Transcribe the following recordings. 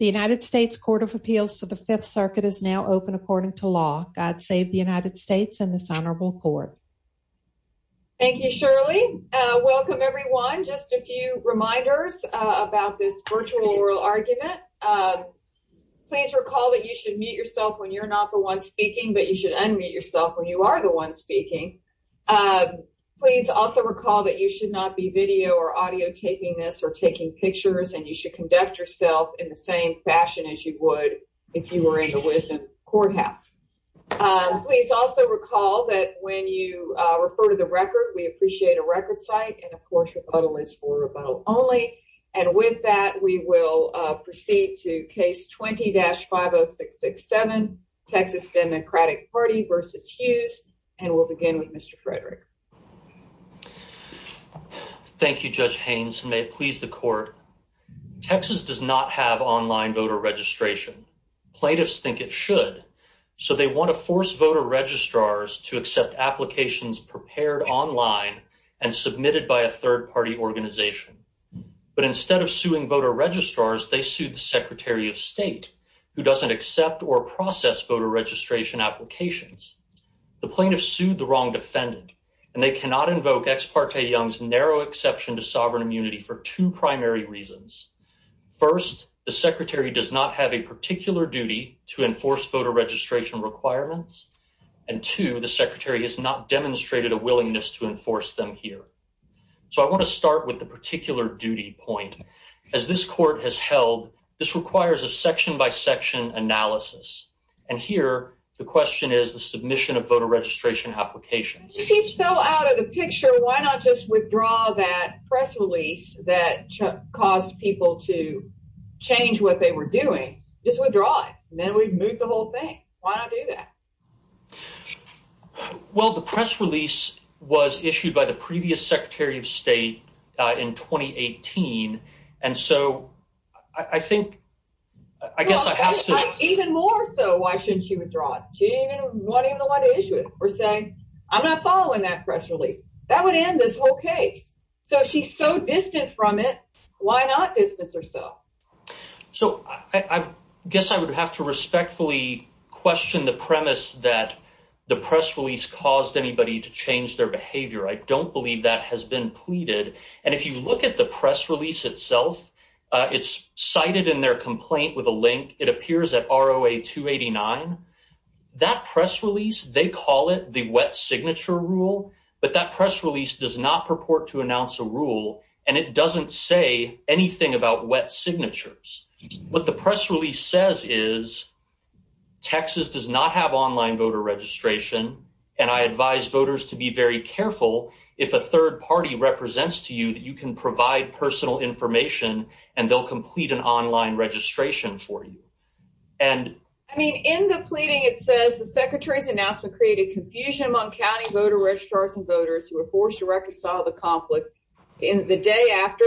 The United States Court of Appeals for the Fifth Circuit is now open according to law. God save the United States and this honorable court. Thank you, Shirley. Welcome, everyone. Just a few reminders about this virtual oral argument. Please recall that you should mute yourself when you're not the one speaking, but you should unmute yourself when you are the one speaking. Please also recall that you should not be video or audio taping this or taking pictures and you should conduct yourself in the same fashion as you would if you were in the Wisdom Courthouse. Please also recall that when you refer to the record, we appreciate a record site and of course, rebuttal is for rebuttal only. With that, we will proceed to case 20-50667, Texas Democratic Party v. Hughes, and we'll begin with Mr. Frederick. Thank you, Judge Haynes. May it please the court, Texas does not have online voter registration. Plaintiffs think it should, so they want to force voter registrars to accept applications prepared online and submitted by a third party organization. But instead of suing voter registrars, they sued the secretary of state who doesn't accept or process voter registration applications. The plaintiffs sued the wrong defendant and they cannot invoke Ex parte Young's narrow exception to sovereign immunity for two primary reasons. First, the secretary does not have a particular duty to enforce voter registration requirements. And two, the secretary has not demonstrated a willingness to enforce them here. So I want to start with the particular duty point. As this court has held, this requires a section by section analysis. And here, the question is the submission of voter registration applications. If he's so out of the picture, why not just withdraw that press release that caused people to change what they were doing? Just withdraw it. Then we've moved the whole thing. Why not do that? Well, the press release was issued by the previous secretary of state in 2018. And so I think, I guess I have to... Even more so, why shouldn't she withdraw it? She didn't even want to issue it, per se. I'm not following that press release. That would end this whole case. So if she's so distant from it, why not distance herself? So I guess I would have to respectfully question the premise that the press release caused anybody to change their behavior. I don't believe that has been pleaded. And if you look at the press release itself, it's cited in their complaint with a link. It appears at ROA 289. That press release, they call it the wet signature rule, but that press release does not purport to announce a rule. And it doesn't say anything about wet signatures. What the press release says is Texas does not have online voter registration. And I advise voters to be very careful if a third party represents to you that you can provide personal information and they'll complete an online registration for you. And- I mean, in the pleading, it says the secretary's announcement created confusion among county voter registrars and voters who were forced to reconcile the conflict in the day after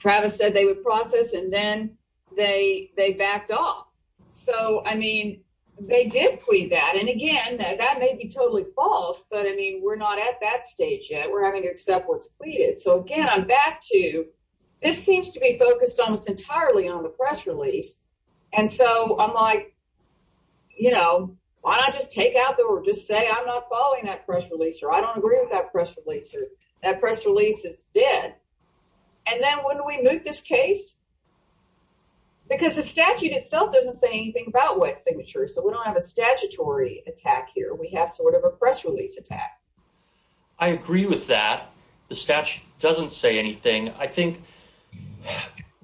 Travis said they would process and then they backed off. So I mean, they did plead that. And again, that may be totally false, but I mean, we're not at that stage yet. We're having to accept what's pleaded. So again, I'm back to this seems to be focused almost entirely on the press release. And so I'm like, you know, why don't I just take out there or just say I'm not following that press release or I don't agree with that press release or that press release is dead. And then when we move this case, because the statute itself doesn't say anything about wet signatures. So we don't have a statutory attack here. We have sort of a press release attack. I agree with that. The statute doesn't say anything. I think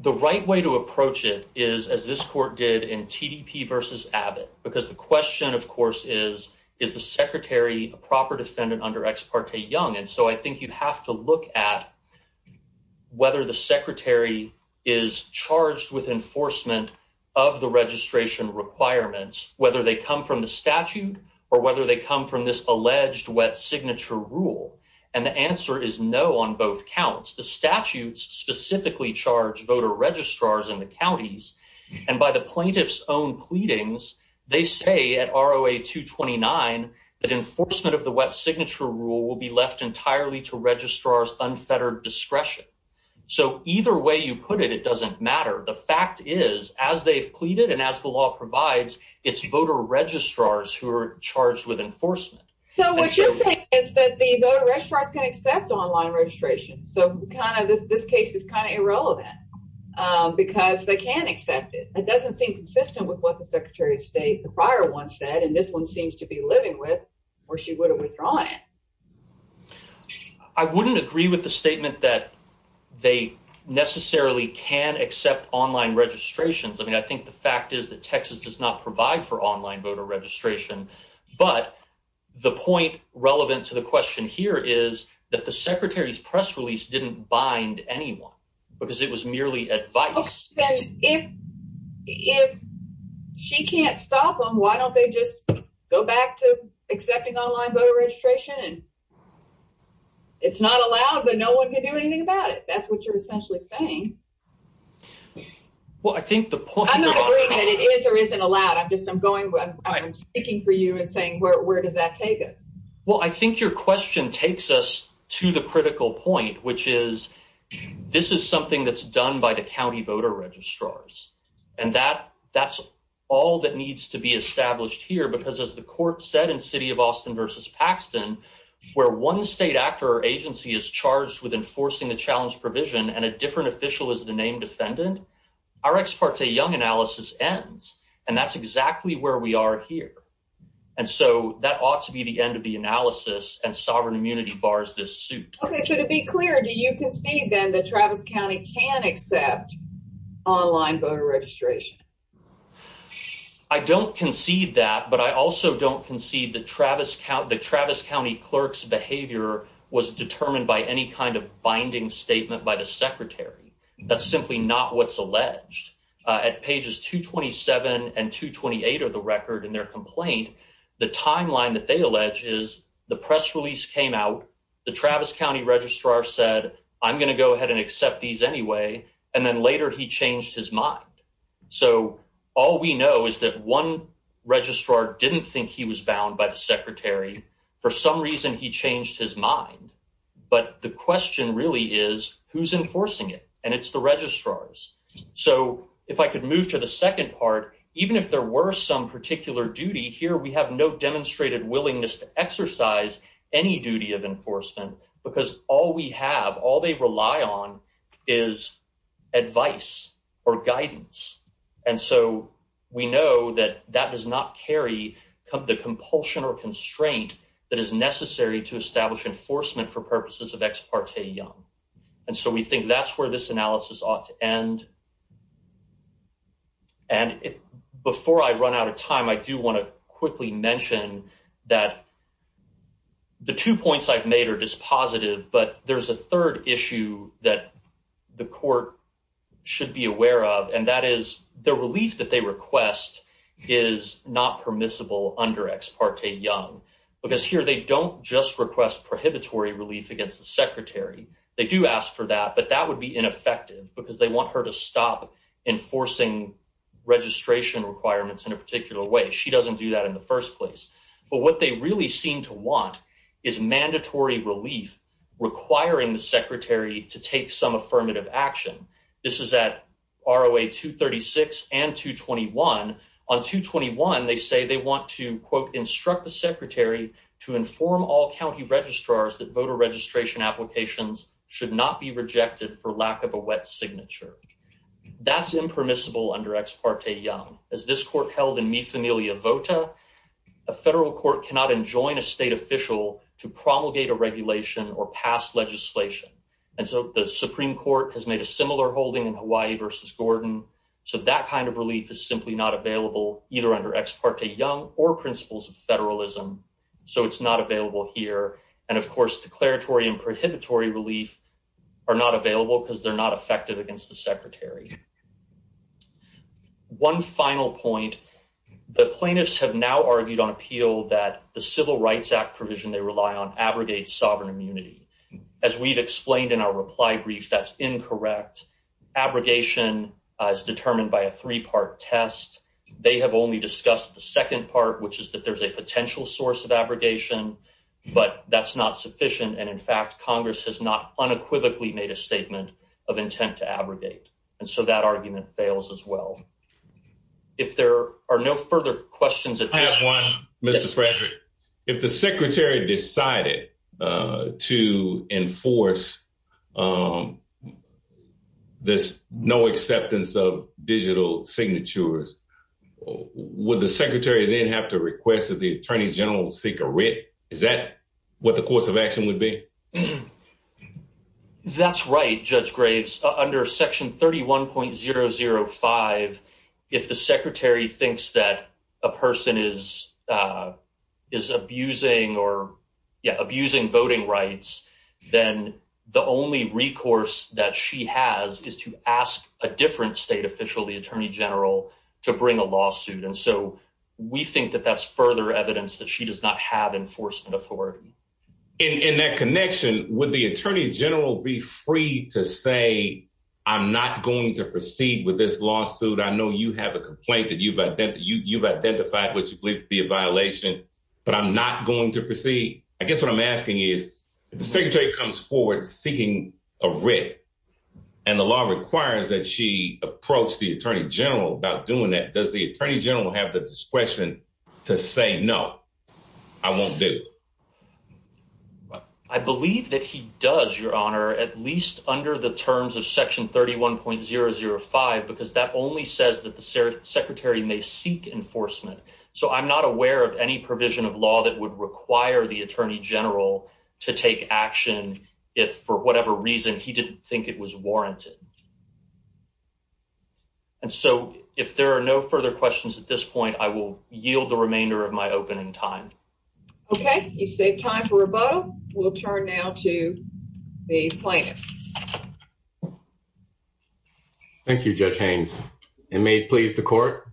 the right way to approach it is, as this court did in T.D.P. versus Abbott. Because the question, of course, is, is the secretary a proper defendant under ex parte young? And so I think you have to look at whether the secretary is charged with enforcement of the registration requirements, whether they come from the statute or whether they come from this alleged wet signature rule. And the answer is no on both counts. The statutes specifically charge voter registrars in the counties and by the plaintiff's own pleadings, they say at R.O.A. 229 that enforcement of the wet signature rule will be left entirely to registrar's unfettered discretion. So either way you put it, it doesn't matter. The fact is, as they've pleaded and as the law provides, it's voter registrars who are charged with enforcement. So what you're saying is that the voter registrars can accept online registration. So kind of this case is kind of irrelevant because they can accept it. It doesn't seem consistent with what the secretary of state, the prior one, said. And this one seems to be living with where she would have withdrawn it. I wouldn't agree with the statement that they necessarily can accept online registrations. I mean, I think the fact is that Texas does not provide for online voter registration. But the point relevant to the question here is that the secretary's press release didn't bind anyone because it was merely advice. And if if she can't stop them, why don't they just go back to accepting online voter registration? And it's not allowed, but no one can do anything about it. That's what you're essentially saying. Well, I think the point that it is or isn't allowed. I'm just I'm going. I'm speaking for you and saying, where does that take us? Well, I think your question takes us to the critical point, which is this is something that's done by the county voter registrars. And that that's all that needs to be established here, because, as the court said in City of Austin versus Paxton, where one state actor agency is charged with enforcing the challenge provision and a different official is the named defendant. Our ex parte Young analysis ends and that's exactly where we are here. And so that ought to be the end of the analysis. And sovereign immunity bars this suit. OK, so to be clear, do you concede then that Travis County can accept online voter registration? I don't concede that, but I also don't concede that Travis, the Travis County clerk's behavior was determined by any kind of binding statement by the alleged at pages 227 and 228 of the record in their complaint. The timeline that they allege is the press release came out. The Travis County registrar said, I'm going to go ahead and accept these anyway. And then later he changed his mind. So all we know is that one registrar didn't think he was bound by the secretary. For some reason, he changed his mind. But the question really is who's enforcing it? And it's the registrars. So if I could move to the second part, even if there were some particular duty here, we have no demonstrated willingness to exercise any duty of enforcement because all we have, all they rely on is advice or guidance. And so we know that that does not carry the compulsion or constraint that is necessary to establish enforcement for purposes of ex parte Young. And so we think that's where this analysis ought to end. And before I run out of time, I do want to quickly mention that. The two points I've made are just positive, but there's a third issue that the court should be aware of, and that is the relief that they request is not permissible under ex parte Young, because here they don't just request prohibitory relief against the they do ask for that, but that would be ineffective because they want her to stop enforcing registration requirements in a particular way. She doesn't do that in the first place. But what they really seem to want is mandatory relief, requiring the secretary to take some affirmative action. This is at ROA 236 and 221 on 221. They say they want to, quote, instruct the secretary to inform all county registrars that voter registration applications should not be rejected for lack of a wet signature. That's impermissible under ex parte Young. As this court held in Mi Familia Vota, a federal court cannot enjoin a state official to promulgate a regulation or pass legislation. And so the Supreme Court has made a similar holding in Hawaii versus Gordon. So that kind of relief is simply not available either under ex parte Young or principles of federalism. So it's not available here. And of course, declaratory and prohibitory relief are not available because they're not effective against the secretary. One final point, the plaintiffs have now argued on appeal that the Civil Rights Act provision they rely on abrogates sovereign immunity. As we've explained in our reply brief, that's incorrect. Abrogation is determined by a three part test. They have only discussed the second part, which is that there's a potential source of that's not sufficient. And in fact, Congress has not unequivocally made a statement of intent to abrogate. And so that argument fails as well. If there are no further questions at this point, Mr. Frederick, if the secretary decided to enforce this no acceptance of digital signatures, would the secretary then have to request that the attorney general seek a what the course of action would be? That's right, Judge Graves, under Section 31.005, if the secretary thinks that a person is is abusing or abusing voting rights, then the only recourse that she has is to ask a different state official, the attorney general, to bring a lawsuit. And so we think that that's further evidence that she does not have enforcement authority. In that connection, would the attorney general be free to say, I'm not going to proceed with this lawsuit? I know you have a complaint that you've you've identified what you believe to be a violation, but I'm not going to proceed. I guess what I'm asking is if the secretary comes forward seeking a writ and the law requires that she approach the attorney general about doing that, does the attorney general have the discretion to say, no, I won't do. I believe that he does, Your Honor, at least under the terms of Section 31.005, because that only says that the secretary may seek enforcement. So I'm not aware of any provision of law that would require the attorney general to take action if, for whatever reason, he didn't think it was warranted. And so if there are no further questions at this point, I will yield the remainder of my opening time. Okay, you've saved time for rebuttal. We'll turn now to the plaintiff. Thank you, Judge Haynes. It may please the court.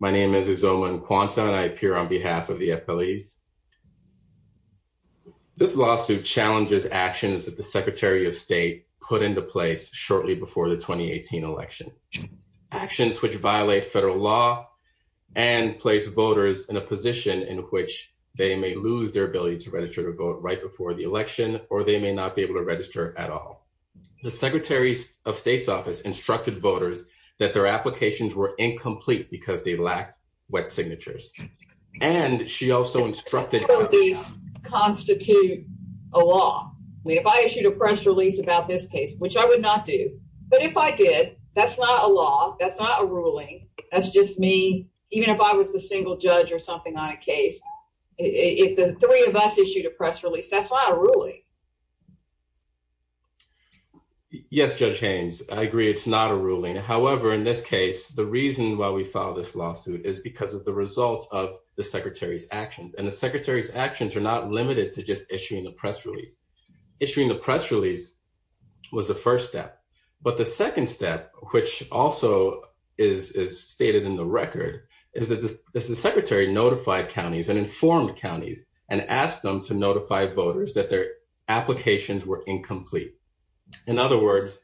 My name is Izoma Nkwonsa and I appear on behalf of the FLEs. This lawsuit challenges actions that the Secretary of State put into place shortly before the 2018 election, actions which violate federal law and place voters in a position where they may lose their ability to register to vote right before the election, or they may not be able to register at all. The Secretary of State's office instructed voters that their applications were incomplete because they lacked wet signatures. And she also instructed that these constitute a law. I mean, if I issued a press release about this case, which I would not do, but if I did, that's not a law, that's not a ruling, that's just me, even if I was the single judge or something on a case, if the three of us issued a press release, that's not a ruling. Yes, Judge Haynes, I agree, it's not a ruling. However, in this case, the reason why we filed this lawsuit is because of the results of the Secretary's actions. And the Secretary's actions are not limited to just issuing a press release. Issuing the press release was the first step. But the second step, which also is stated in the record, is that the Secretary notified counties and informed counties and asked them to notify voters that their applications were incomplete. In other words,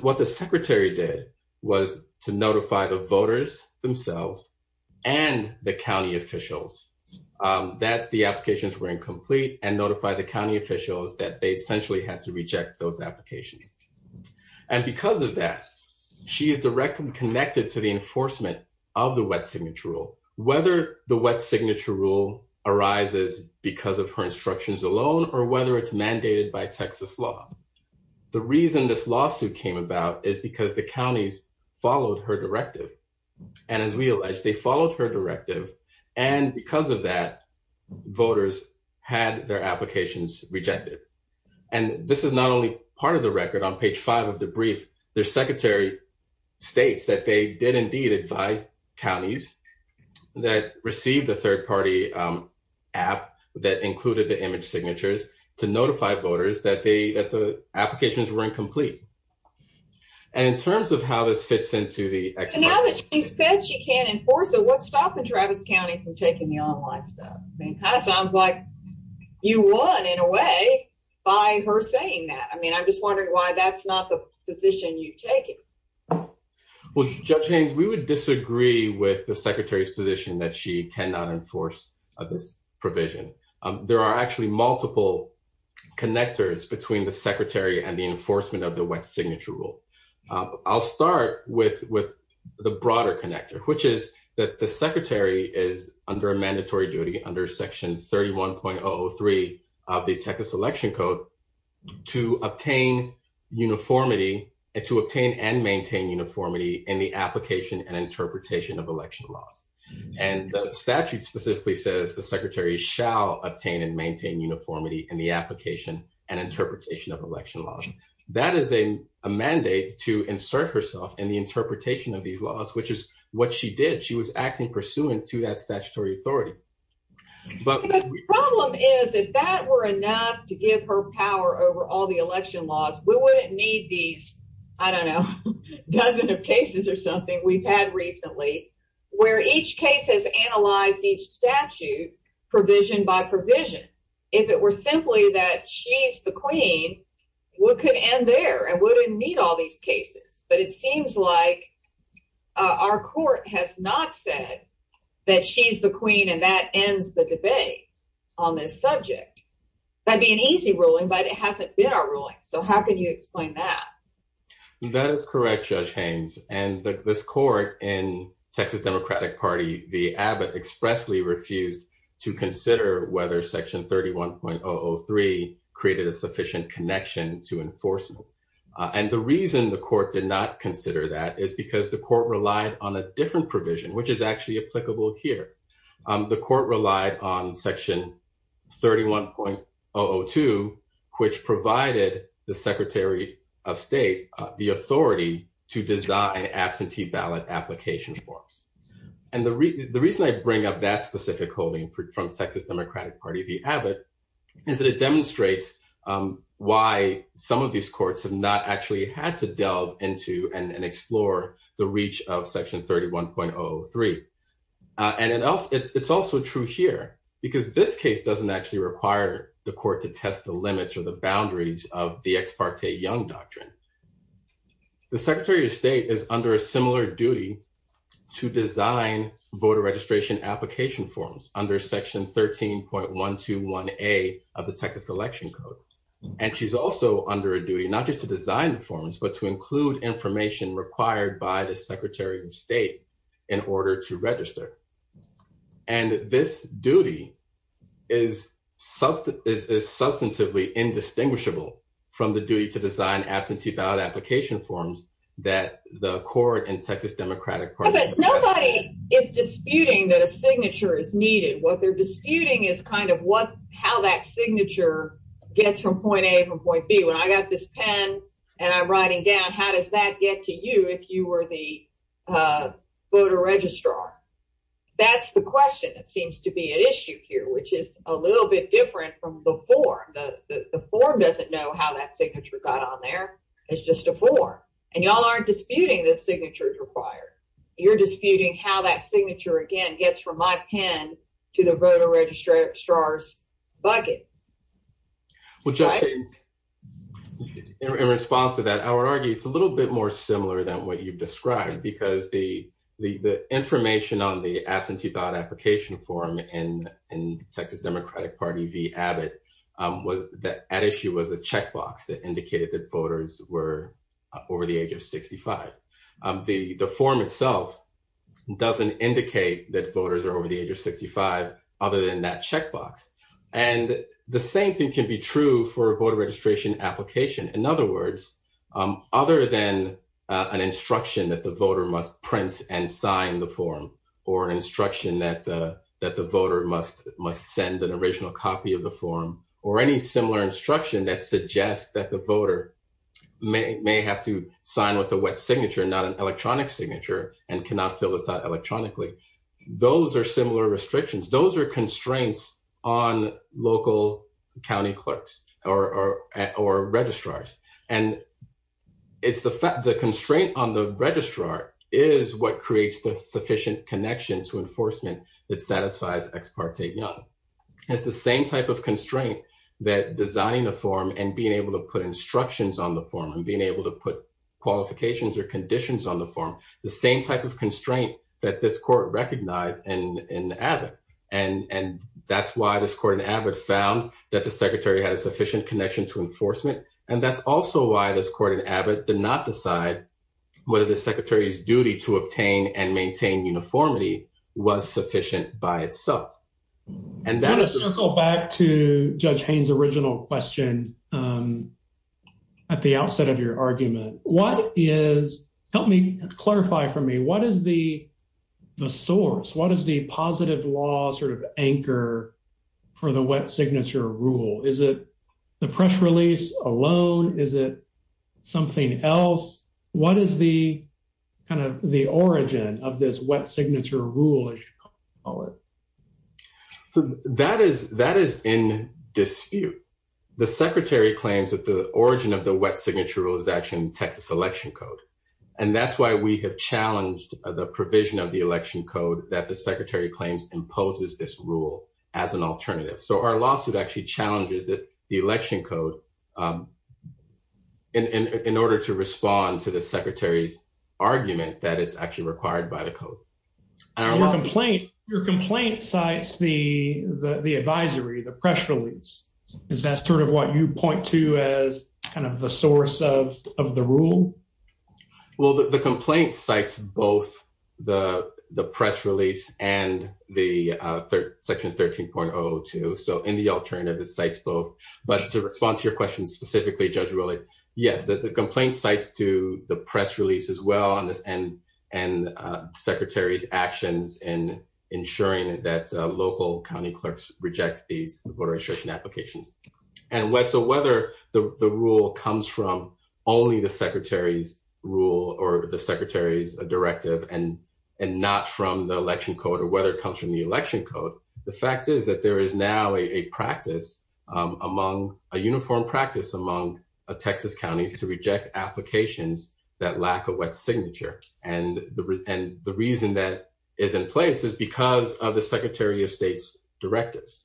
what the Secretary did was to notify the voters themselves and the county officials that the applications were incomplete and notify the county officials that they essentially had to reject those applications. And because of that, she is directly connected to the enforcement of the wet signature rule, whether the wet signature rule arises because of her instructions alone or whether it's mandated by Texas law. The reason this lawsuit came about is because the counties followed her directive. And as we allege, they followed her directive. And because of that, voters had their applications rejected. And this is not only part of the record on page five of the brief, the Secretary states that they did indeed advise counties that received a third party app that included the image signatures to notify voters that the applications were incomplete. And in terms of how this fits into the explanation. So now that she said she can't enforce it, what's stopping Travis County from taking the online stuff? That sounds like you won in a way by her saying that. I mean, I'm just wondering why that's not the position you take it. Well, Judge Haynes, we would disagree with the secretary's position that she cannot enforce this provision. There are actually multiple connectors between the secretary and the enforcement of the wet signature rule. I'll start with with the broader connector, which is that the secretary is under a Section 31.03 of the Texas Election Code to obtain uniformity and to obtain and maintain uniformity in the application and interpretation of election laws. And the statute specifically says the secretary shall obtain and maintain uniformity in the application and interpretation of election laws. That is a mandate to insert herself in the interpretation of these laws, which is what she did. She was acting pursuant to that statutory authority. But the problem is, if that were enough to give her power over all the election laws, we wouldn't need these, I don't know, dozen of cases or something we've had recently where each case has analyzed each statute provision by provision. If it were simply that she's the queen, we could end there and wouldn't need all these cases. But it seems like our court has not said that she's the queen and that ends the debate on this subject. That'd be an easy ruling, but it hasn't been our ruling. So how can you explain that? That is correct, Judge Haynes, and this court in Texas Democratic Party v. Abbott expressly refused to consider whether Section 31.03 created a sufficient connection to enforcement. And the reason the court did not consider that is because the court relied on a different provision, which is actually applicable here. The court relied on Section 31.002, which provided the Secretary of State the authority to design absentee ballot application forms. And the reason I bring up that specific holding from Texas Democratic Party v. Abbott is that it demonstrates why some of these courts have not actually had to delve into and explore the reach of Section 31.003. And it's also true here because this case doesn't actually require the court to test the limits or the boundaries of the Ex parte Young Doctrine. The Secretary of State is under a similar duty to design voter registration application forms under Section 13.121A of the Texas Election Code. And she's also under a duty not just to design the forms, but to include information required by the Secretary of State in order to register. And this duty is substantively indistinguishable from the duty to design absentee ballot application forms that the court in Texas Democratic Party v. Abbott. But nobody is disputing that a signature is needed. What they're disputing is kind of how that signature gets from point A to point B. When I got this pen and I'm writing down, how does that get to you if you were the voter registrar? That's the question that seems to be at issue here, which is a little bit different from the form. The form doesn't know how that signature got on there. It's just a form. And y'all aren't disputing the signatures required. You're disputing how that signature, again, gets from my pen to the voter registrar's bucket. Well, Justin, in response to that, I would argue it's a little bit more similar than what you've described, because the information on the absentee ballot application form in in Texas Democratic Party v. Abbott was that at issue was a checkbox that indicated that voters were over the age of 65. The form itself doesn't indicate that voters are over the age of 65 other than that checkbox. And the same thing can be true for a voter registration application. In other words, other than an instruction that the voter must print and sign the form or an instruction that the voter must send an original copy of the form or any similar instruction that suggests that the voter may have to sign with a wet signature, not an electronic signature, and cannot fill this out electronically. Those are similar restrictions. Those are constraints on local county clerks or registrars. And it's the fact the constraint on the registrar is what creates the sufficient connection to enforcement that satisfies Ex parte Young. It's the same type of constraint that designing the form and being able to put instructions on the form and being able to put qualifications or conditions on the form, the same type of And that's why this court in Abbott found that the secretary had a sufficient connection to enforcement. And that's also why this court in Abbott did not decide whether the secretary's duty to obtain and maintain uniformity was sufficient by itself. And that is to go back to Judge Haynes original question at the outset of your argument. What is help me clarify for me. What is the source? What is the positive law sort of anchor for the wet signature rule? Is it the press release alone? Is it something else? What is the kind of the origin of this wet signature rule, as you call it? So that is that is in dispute. The secretary claims that the origin of the wet signature rule is actually in Texas election code. And that's why we have challenged the provision of the election code that the secretary claims imposes this rule as an alternative. So our lawsuit actually challenges that the election code. And in order to respond to the secretary's argument that it's actually required by the code. Your complaint sites, the, the, the advisory, the press release is that sort of what you point to as kind of the source of the rule. Well, the complaint sites, both the, the press release and the third section 13.02. So in the alternative, it cites both. But to respond to your question specifically, Judge Rowley, yes, that the complaint sites to the press release as well on this and, and secretary's actions and ensuring that local county clerks reject these voter registration applications. And what so whether the rule comes from only the secretary's rule or the secretary's directive and and not from the election code or whether it comes from the election code. The fact is that there is now a practice among a uniform practice among a Texas counties to reject applications that lack a wet signature and the and the reason that is in place is because of the secretary of state's directives.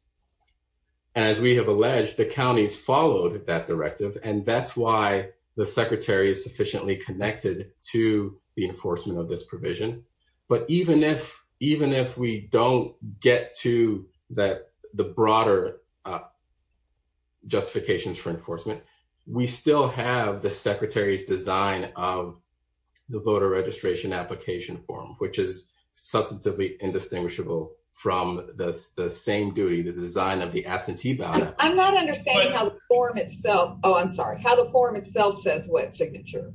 And as we have alleged, the counties followed that directive. And that's why the secretary is sufficiently connected to the enforcement of this provision. But even if, even if we don't get to that, the broader justifications for enforcement, we still have the secretary's design of the voter registration application form, which is substantively indistinguishable from the same duty, the design of the absentee ballot. I'm not understanding how the form itself. Oh, I'm sorry. How the form itself says wet signature.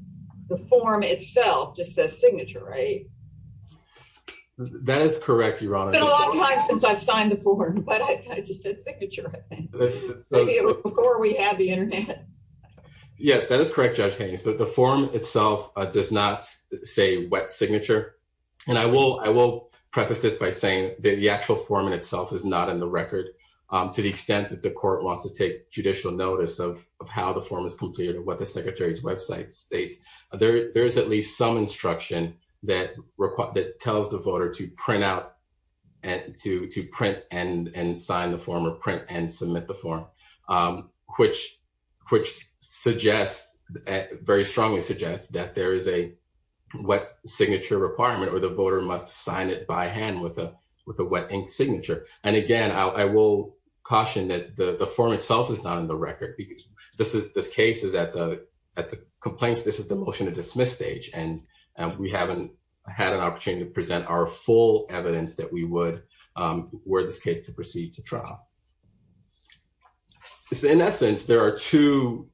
The form itself just says signature, right? That is correct, Your Honor. It's been a long time since I've signed the form, but I just said signature, I think. Before we had the internet. Yes, that is correct, Judge Haynes, that the form itself does not say wet signature. And I will preface this by saying that the actual form in itself is not in the record. To the extent that the court wants to take judicial notice of how the form is completed and what the secretary's website states, there's at least some instruction that tells the voter to print out and to print and sign the form or print and submit the form, which suggests, very strongly suggests that there is a wet signature requirement or the voter must sign it by hand with a wet ink signature. And again, I will caution that the form itself is not in the record. Because this case is at the complaints, this is the motion to dismiss stage. And we haven't had an opportunity to present our full evidence that we would were this case to proceed to trial. So in essence, there are two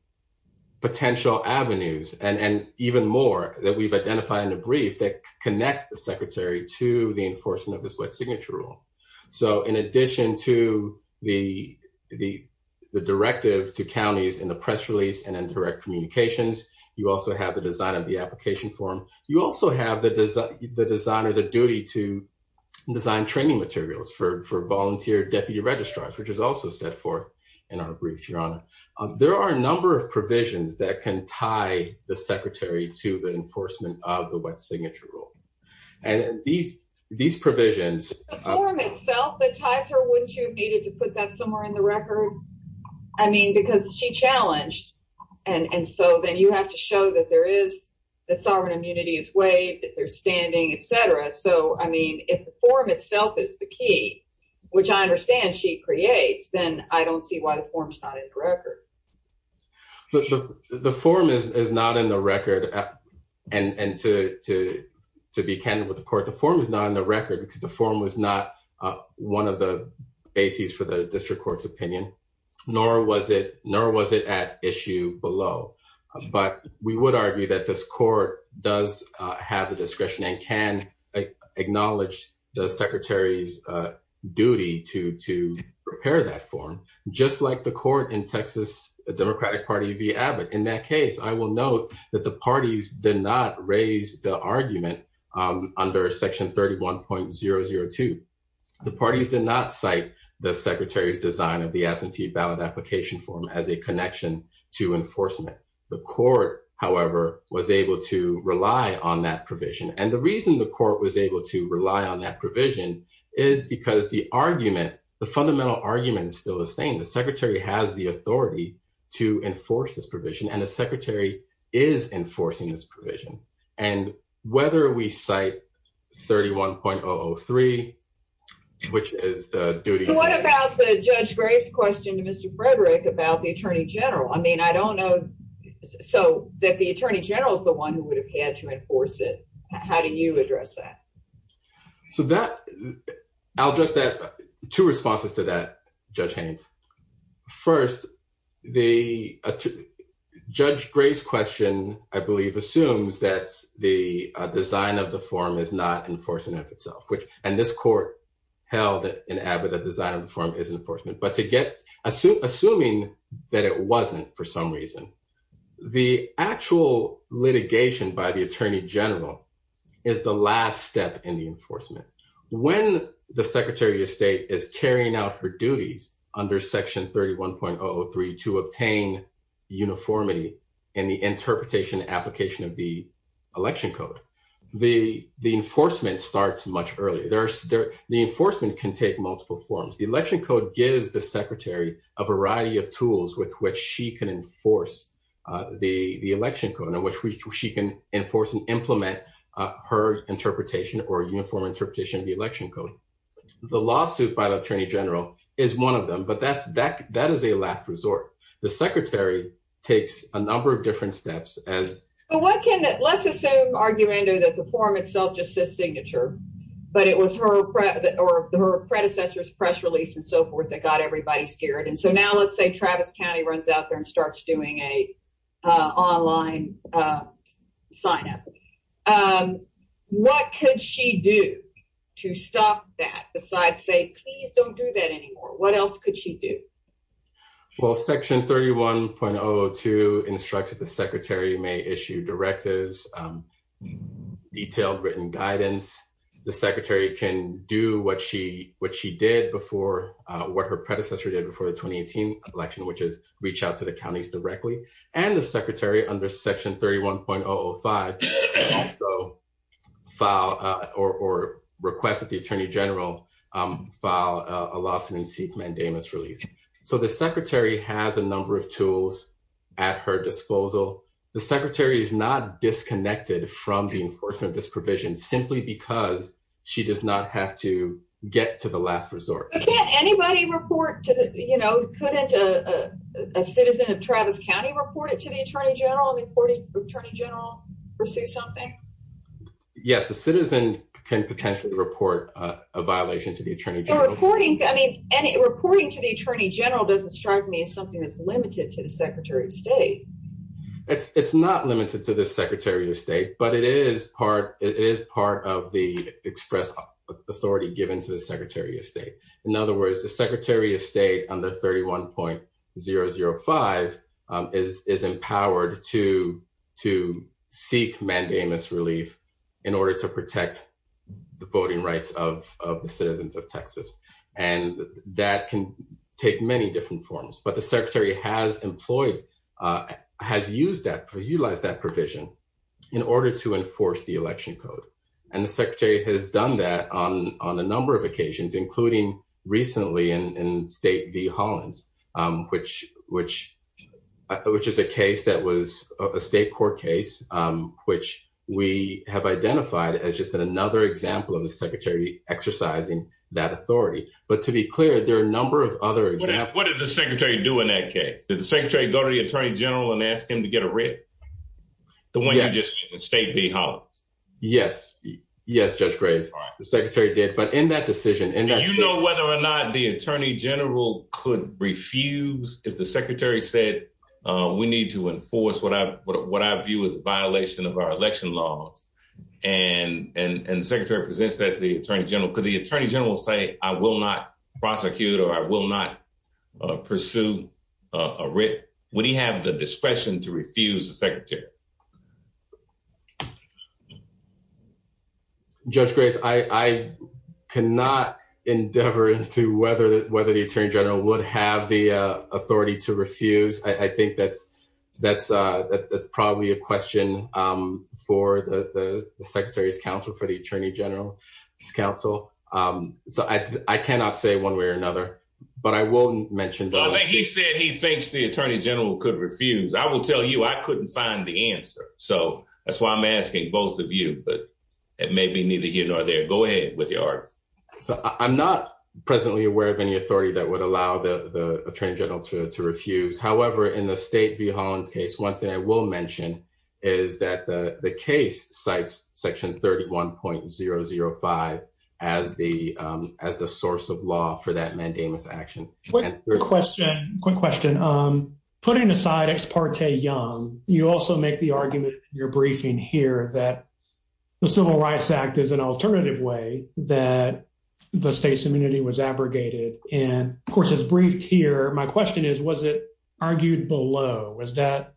potential avenues and even more that we've identified in a brief that connect the secretary to the enforcement of this wet signature rule. So in addition to the directive to counties in the press release and in direct communications, you also have the design of the application form. You also have the design or the duty to design training materials for volunteer deputy registrars, which is also set forth in our brief, Your Honor. There are a number of provisions that can tie the secretary to the enforcement of the wet signature rule. And these, these provisions... The form itself that ties her, wouldn't you have needed to put that somewhere in the record? I mean, because she challenged and so then you have to show that there is So, I mean, if the form itself is the key, which I understand she creates, then I don't see why the form is not in the record. The form is not in the record. And to be candid with the court, the form is not in the record because the form was not one of the bases for the district court's opinion, nor was it at issue below. But we would argue that this court does have the discretion and can acknowledge the secretary's duty to prepare that form. Just like the court in Texas Democratic Party v. Abbott. In that case, I will note that the parties did not raise the argument under Section 31.002. The parties did not cite the secretary's design of the absentee ballot application form as a connection to enforcement. The court, however, was able to rely on that provision. And the reason the court was able to rely on that provision is because the argument, the fundamental argument is still the same. The secretary has the authority to enforce this provision, and the secretary is enforcing this provision. And whether we cite 31.003, which is the duty. What about the Judge Graves question to Mr. Frederick about the Attorney General? I mean, I don't know. So that the Attorney General is the one who would have had to enforce it. How do you address that? So that, I'll address that, two responses to that, Judge Haynes. First, the Judge Graves question, I believe, assumes that the design of the form is not enforcement of itself. And this court held in Abbott that the design of the form is enforcement. But assuming that it wasn't for some reason, the actual litigation by the Attorney General is the last step in the enforcement. When the Secretary of State is carrying out her duties under section 31.003 to obtain uniformity in the interpretation application of the election code, the enforcement starts much earlier. The enforcement can take multiple forms. The election code gives the Secretary a variety of tools with which she can enforce the election code, in which she can enforce and implement her interpretation or uniform interpretation of the election code. The lawsuit by the Attorney General is one of them. But that is a last resort. The Secretary takes a number of different steps as... Let's assume, Argumando, that the form itself just says signature, but it was her predecessor's press release and so forth that got everybody scared. And so now, let's say Travis County runs out there and starts doing an online sign-up. What could she do to stop that, besides say, please don't do that anymore? What else could she do? Well, section 31.002 instructs that the Secretary may issue directives, detailed written guidance. The Secretary can do what she did before, what her predecessor did before the 2018 election, which is reach out to the counties directly. And the Secretary, under section 31.005, can also file or request that the Attorney General file a lawsuit and seek mandamus relief. So the Secretary has a number of tools at her disposal. The Secretary is not disconnected from the enforcement of this provision, simply because she does not have to get to the last resort. But can't anybody report to... Couldn't a citizen of Travis County report it to the Attorney General and the Attorney General pursue something? Yes, a citizen can potentially report a violation to the Attorney General. Reporting to the Attorney General doesn't strike me as something that's limited to the Secretary of State. It's not limited to the Secretary of State, but it is part of the express authority given to the Secretary of State. In other words, the Secretary of State, under 31.005, is empowered to seek mandamus relief in order to protect the voting rights of the citizens of Texas. And that can take many different forms. The Secretary has used that, has utilized that provision in order to enforce the election code. And the Secretary has done that on a number of occasions, including recently in State v. Hollins, which is a case that was a state court case, which we have identified as just another example of the Secretary exercising that authority. But to be clear, there are a number of other examples... What did the Secretary do in that case? Did the Secretary go to the Attorney General and ask him to get a writ? The one you just gave in State v. Hollins? Yes. Yes, Judge Graves. The Secretary did. But in that decision... Do you know whether or not the Attorney General could refuse if the Secretary said, we need to enforce what I view as a violation of our election laws? And the Secretary presents that to the Attorney General. Could the Attorney General say, I will not prosecute or I will not pursue a writ? Would he have the discretion to refuse the Secretary? Judge Graves, I cannot endeavor into whether the Attorney General would have the authority to refuse. I think that's probably a question for the Secretary's counsel, for the Attorney General's counsel. So I cannot say one way or another. But I will mention... Well, he said he thinks the Attorney General could refuse. I will tell you, I couldn't find the answer. So that's why I'm asking both of you. But it may be neither here nor there. Go ahead with your argument. So I'm not presently aware of any authority that would allow the Attorney General to refuse. However, in the State v. Hollins case, one thing I will mention is that the case cites Section 31.005 as the source of law for that mandamus action. Quick question. Putting aside Ex parte Young, you also make the argument in your briefing here that the Civil Rights Act is an alternative way that the state's immunity was abrogated. And of course, it's briefed here. My question is, was it argued below? Was that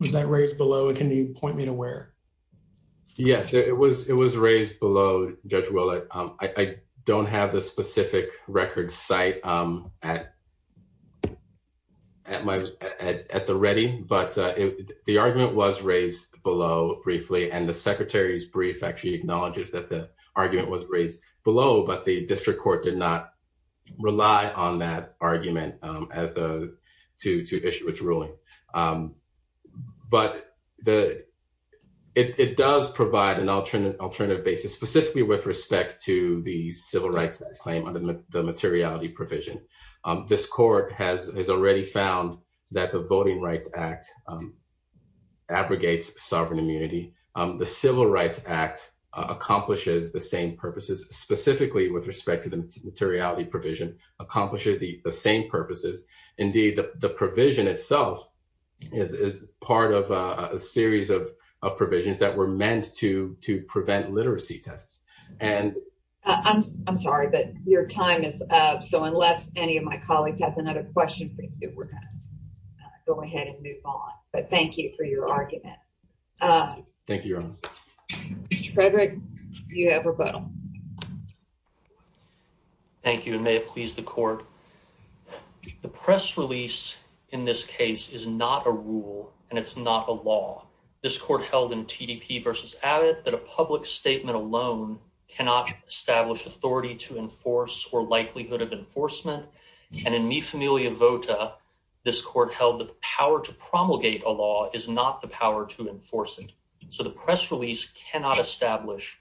raised below? Can you point me to where? Yes, it was raised below, Judge Willett. I don't have the specific record site at the ready, but the argument was raised below briefly. And the Secretary's brief actually acknowledges that the argument was raised below, but the District Court did not rely on that argument to issue its ruling. But it does provide an alternative basis, specifically with respect to the Civil Rights Claim under the materiality provision. This Court has already found that the Voting Rights Act abrogates sovereign immunity. The Civil Rights Act accomplishes the same purposes, specifically with respect to the materiality provision, accomplishes the same purposes. Indeed, the provision itself is part of a series of provisions that were meant to prevent literacy tests. And I'm sorry, but your time is up. So unless any of my colleagues has another question for you, we're going to go ahead and move on. But thank you for your argument. Thank you, Your Honor. Mr. Frederick, you have rebuttal. Thank you, and may it please the Court, that the press release in this case is not a rule and it's not a law. This Court held in TDP v. Abbott that a public statement alone cannot establish authority to enforce or likelihood of enforcement. And in Mi Familia Vota, this Court held that the power to promulgate a law is not the power to enforce it. So the press release cannot establish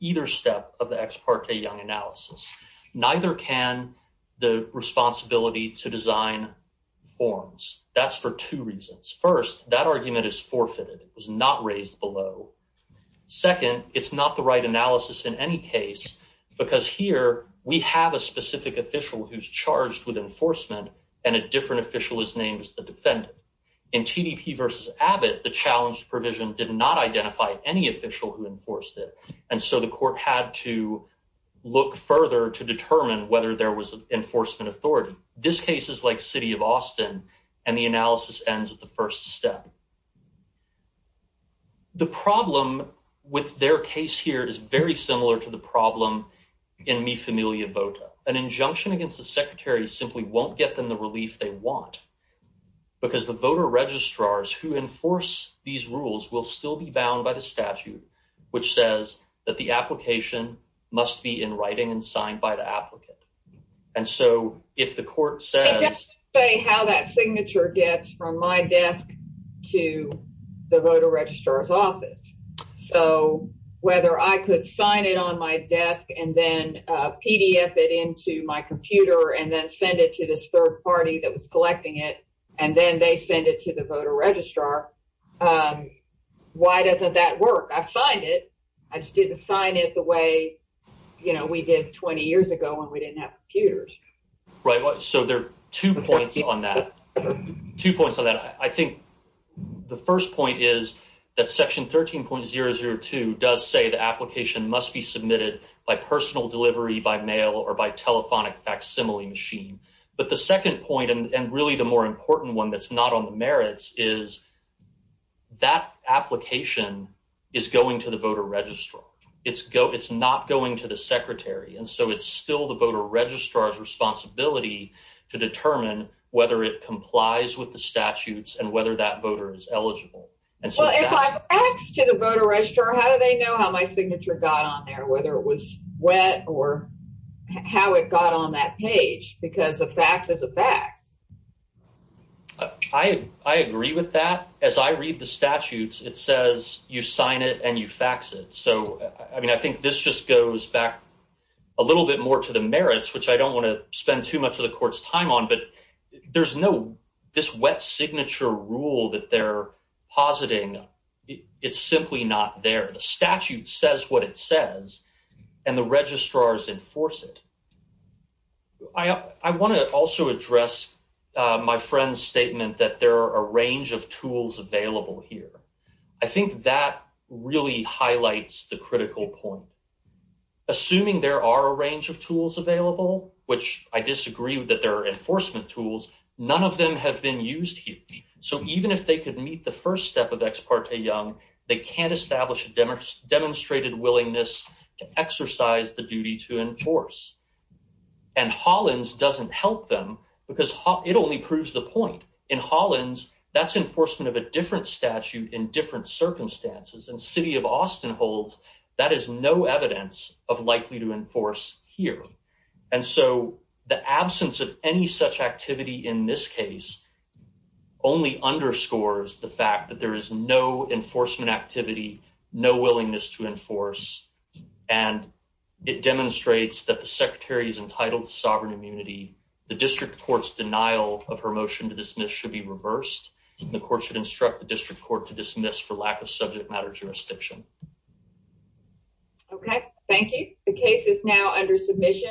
either step of the ex parte Young analysis. Neither can the responsibility to design forms. That's for two reasons. First, that argument is forfeited. It was not raised below. Second, it's not the right analysis in any case because here we have a specific official who's charged with enforcement and a different official is named as the defendant. In TDP v. Abbott, the challenged provision did not identify any official who enforced it. And so the Court had to look further to determine whether there was enforcement authority. This case is like City of Austin and the analysis ends at the first step. The problem with their case here is very similar to the problem in Mi Familia Vota. An injunction against the secretary simply won't get them the relief they want will still be bound by the statute which says that the application must be in writing and signed by the applicant. And so if the Court says- It doesn't say how that signature gets from my desk to the voter registrar's office. So whether I could sign it on my desk and then PDF it into my computer and then send it to this third party that was collecting it and then they send it to the voter registrar, why doesn't that work? I just didn't sign it the way we did 20 years ago when we didn't have computers. Right, so there are two points on that. Two points on that. I think the first point is that section 13.002 does say the application must be submitted by personal delivery by mail or by telephonic facsimile machine. But the second point and really the more important one that's not on the merits is that application is going to the voter registrar. It's not going to the secretary. And so it's still the voter registrar's responsibility to determine whether it complies with the statutes and whether that voter is eligible. And so- If I fax to the voter registrar, how do they know how my signature got on there? Whether it was wet or how it got on that page because a fax is a fax. I agree with that. As I read the statutes, it says you sign it and you fax it. So, I mean, I think this just goes back a little bit more to the merits, which I don't want to spend too much of the court's time on, but there's no, this wet signature rule that they're positing. It's simply not there. The statute says what it says and the registrars enforce it. I want to also address my friend's statement that there are a range of tools available here. I think that really highlights the critical point. Assuming there are a range of tools available, which I disagree that there are enforcement tools, none of them have been used here. So even if they could meet the first step of Ex parte Young, they can't establish a demonstrated willingness to exercise the duty to enforce. And Hollins doesn't help them because it only proves the point. In Hollins, that's enforcement of a different statute in different circumstances. In City of Austin holds, that is no evidence of likely to enforce here. And so the absence of any such activity in this case only underscores the fact that there is no enforcement activity, no willingness to enforce. And it demonstrates that the secretary is entitled to sovereign immunity. The district court's denial of her motion to dismiss should be reversed. The court should instruct the district court to dismiss for lack of subject matter jurisdiction. Okay. Thank you. The case is now under submission.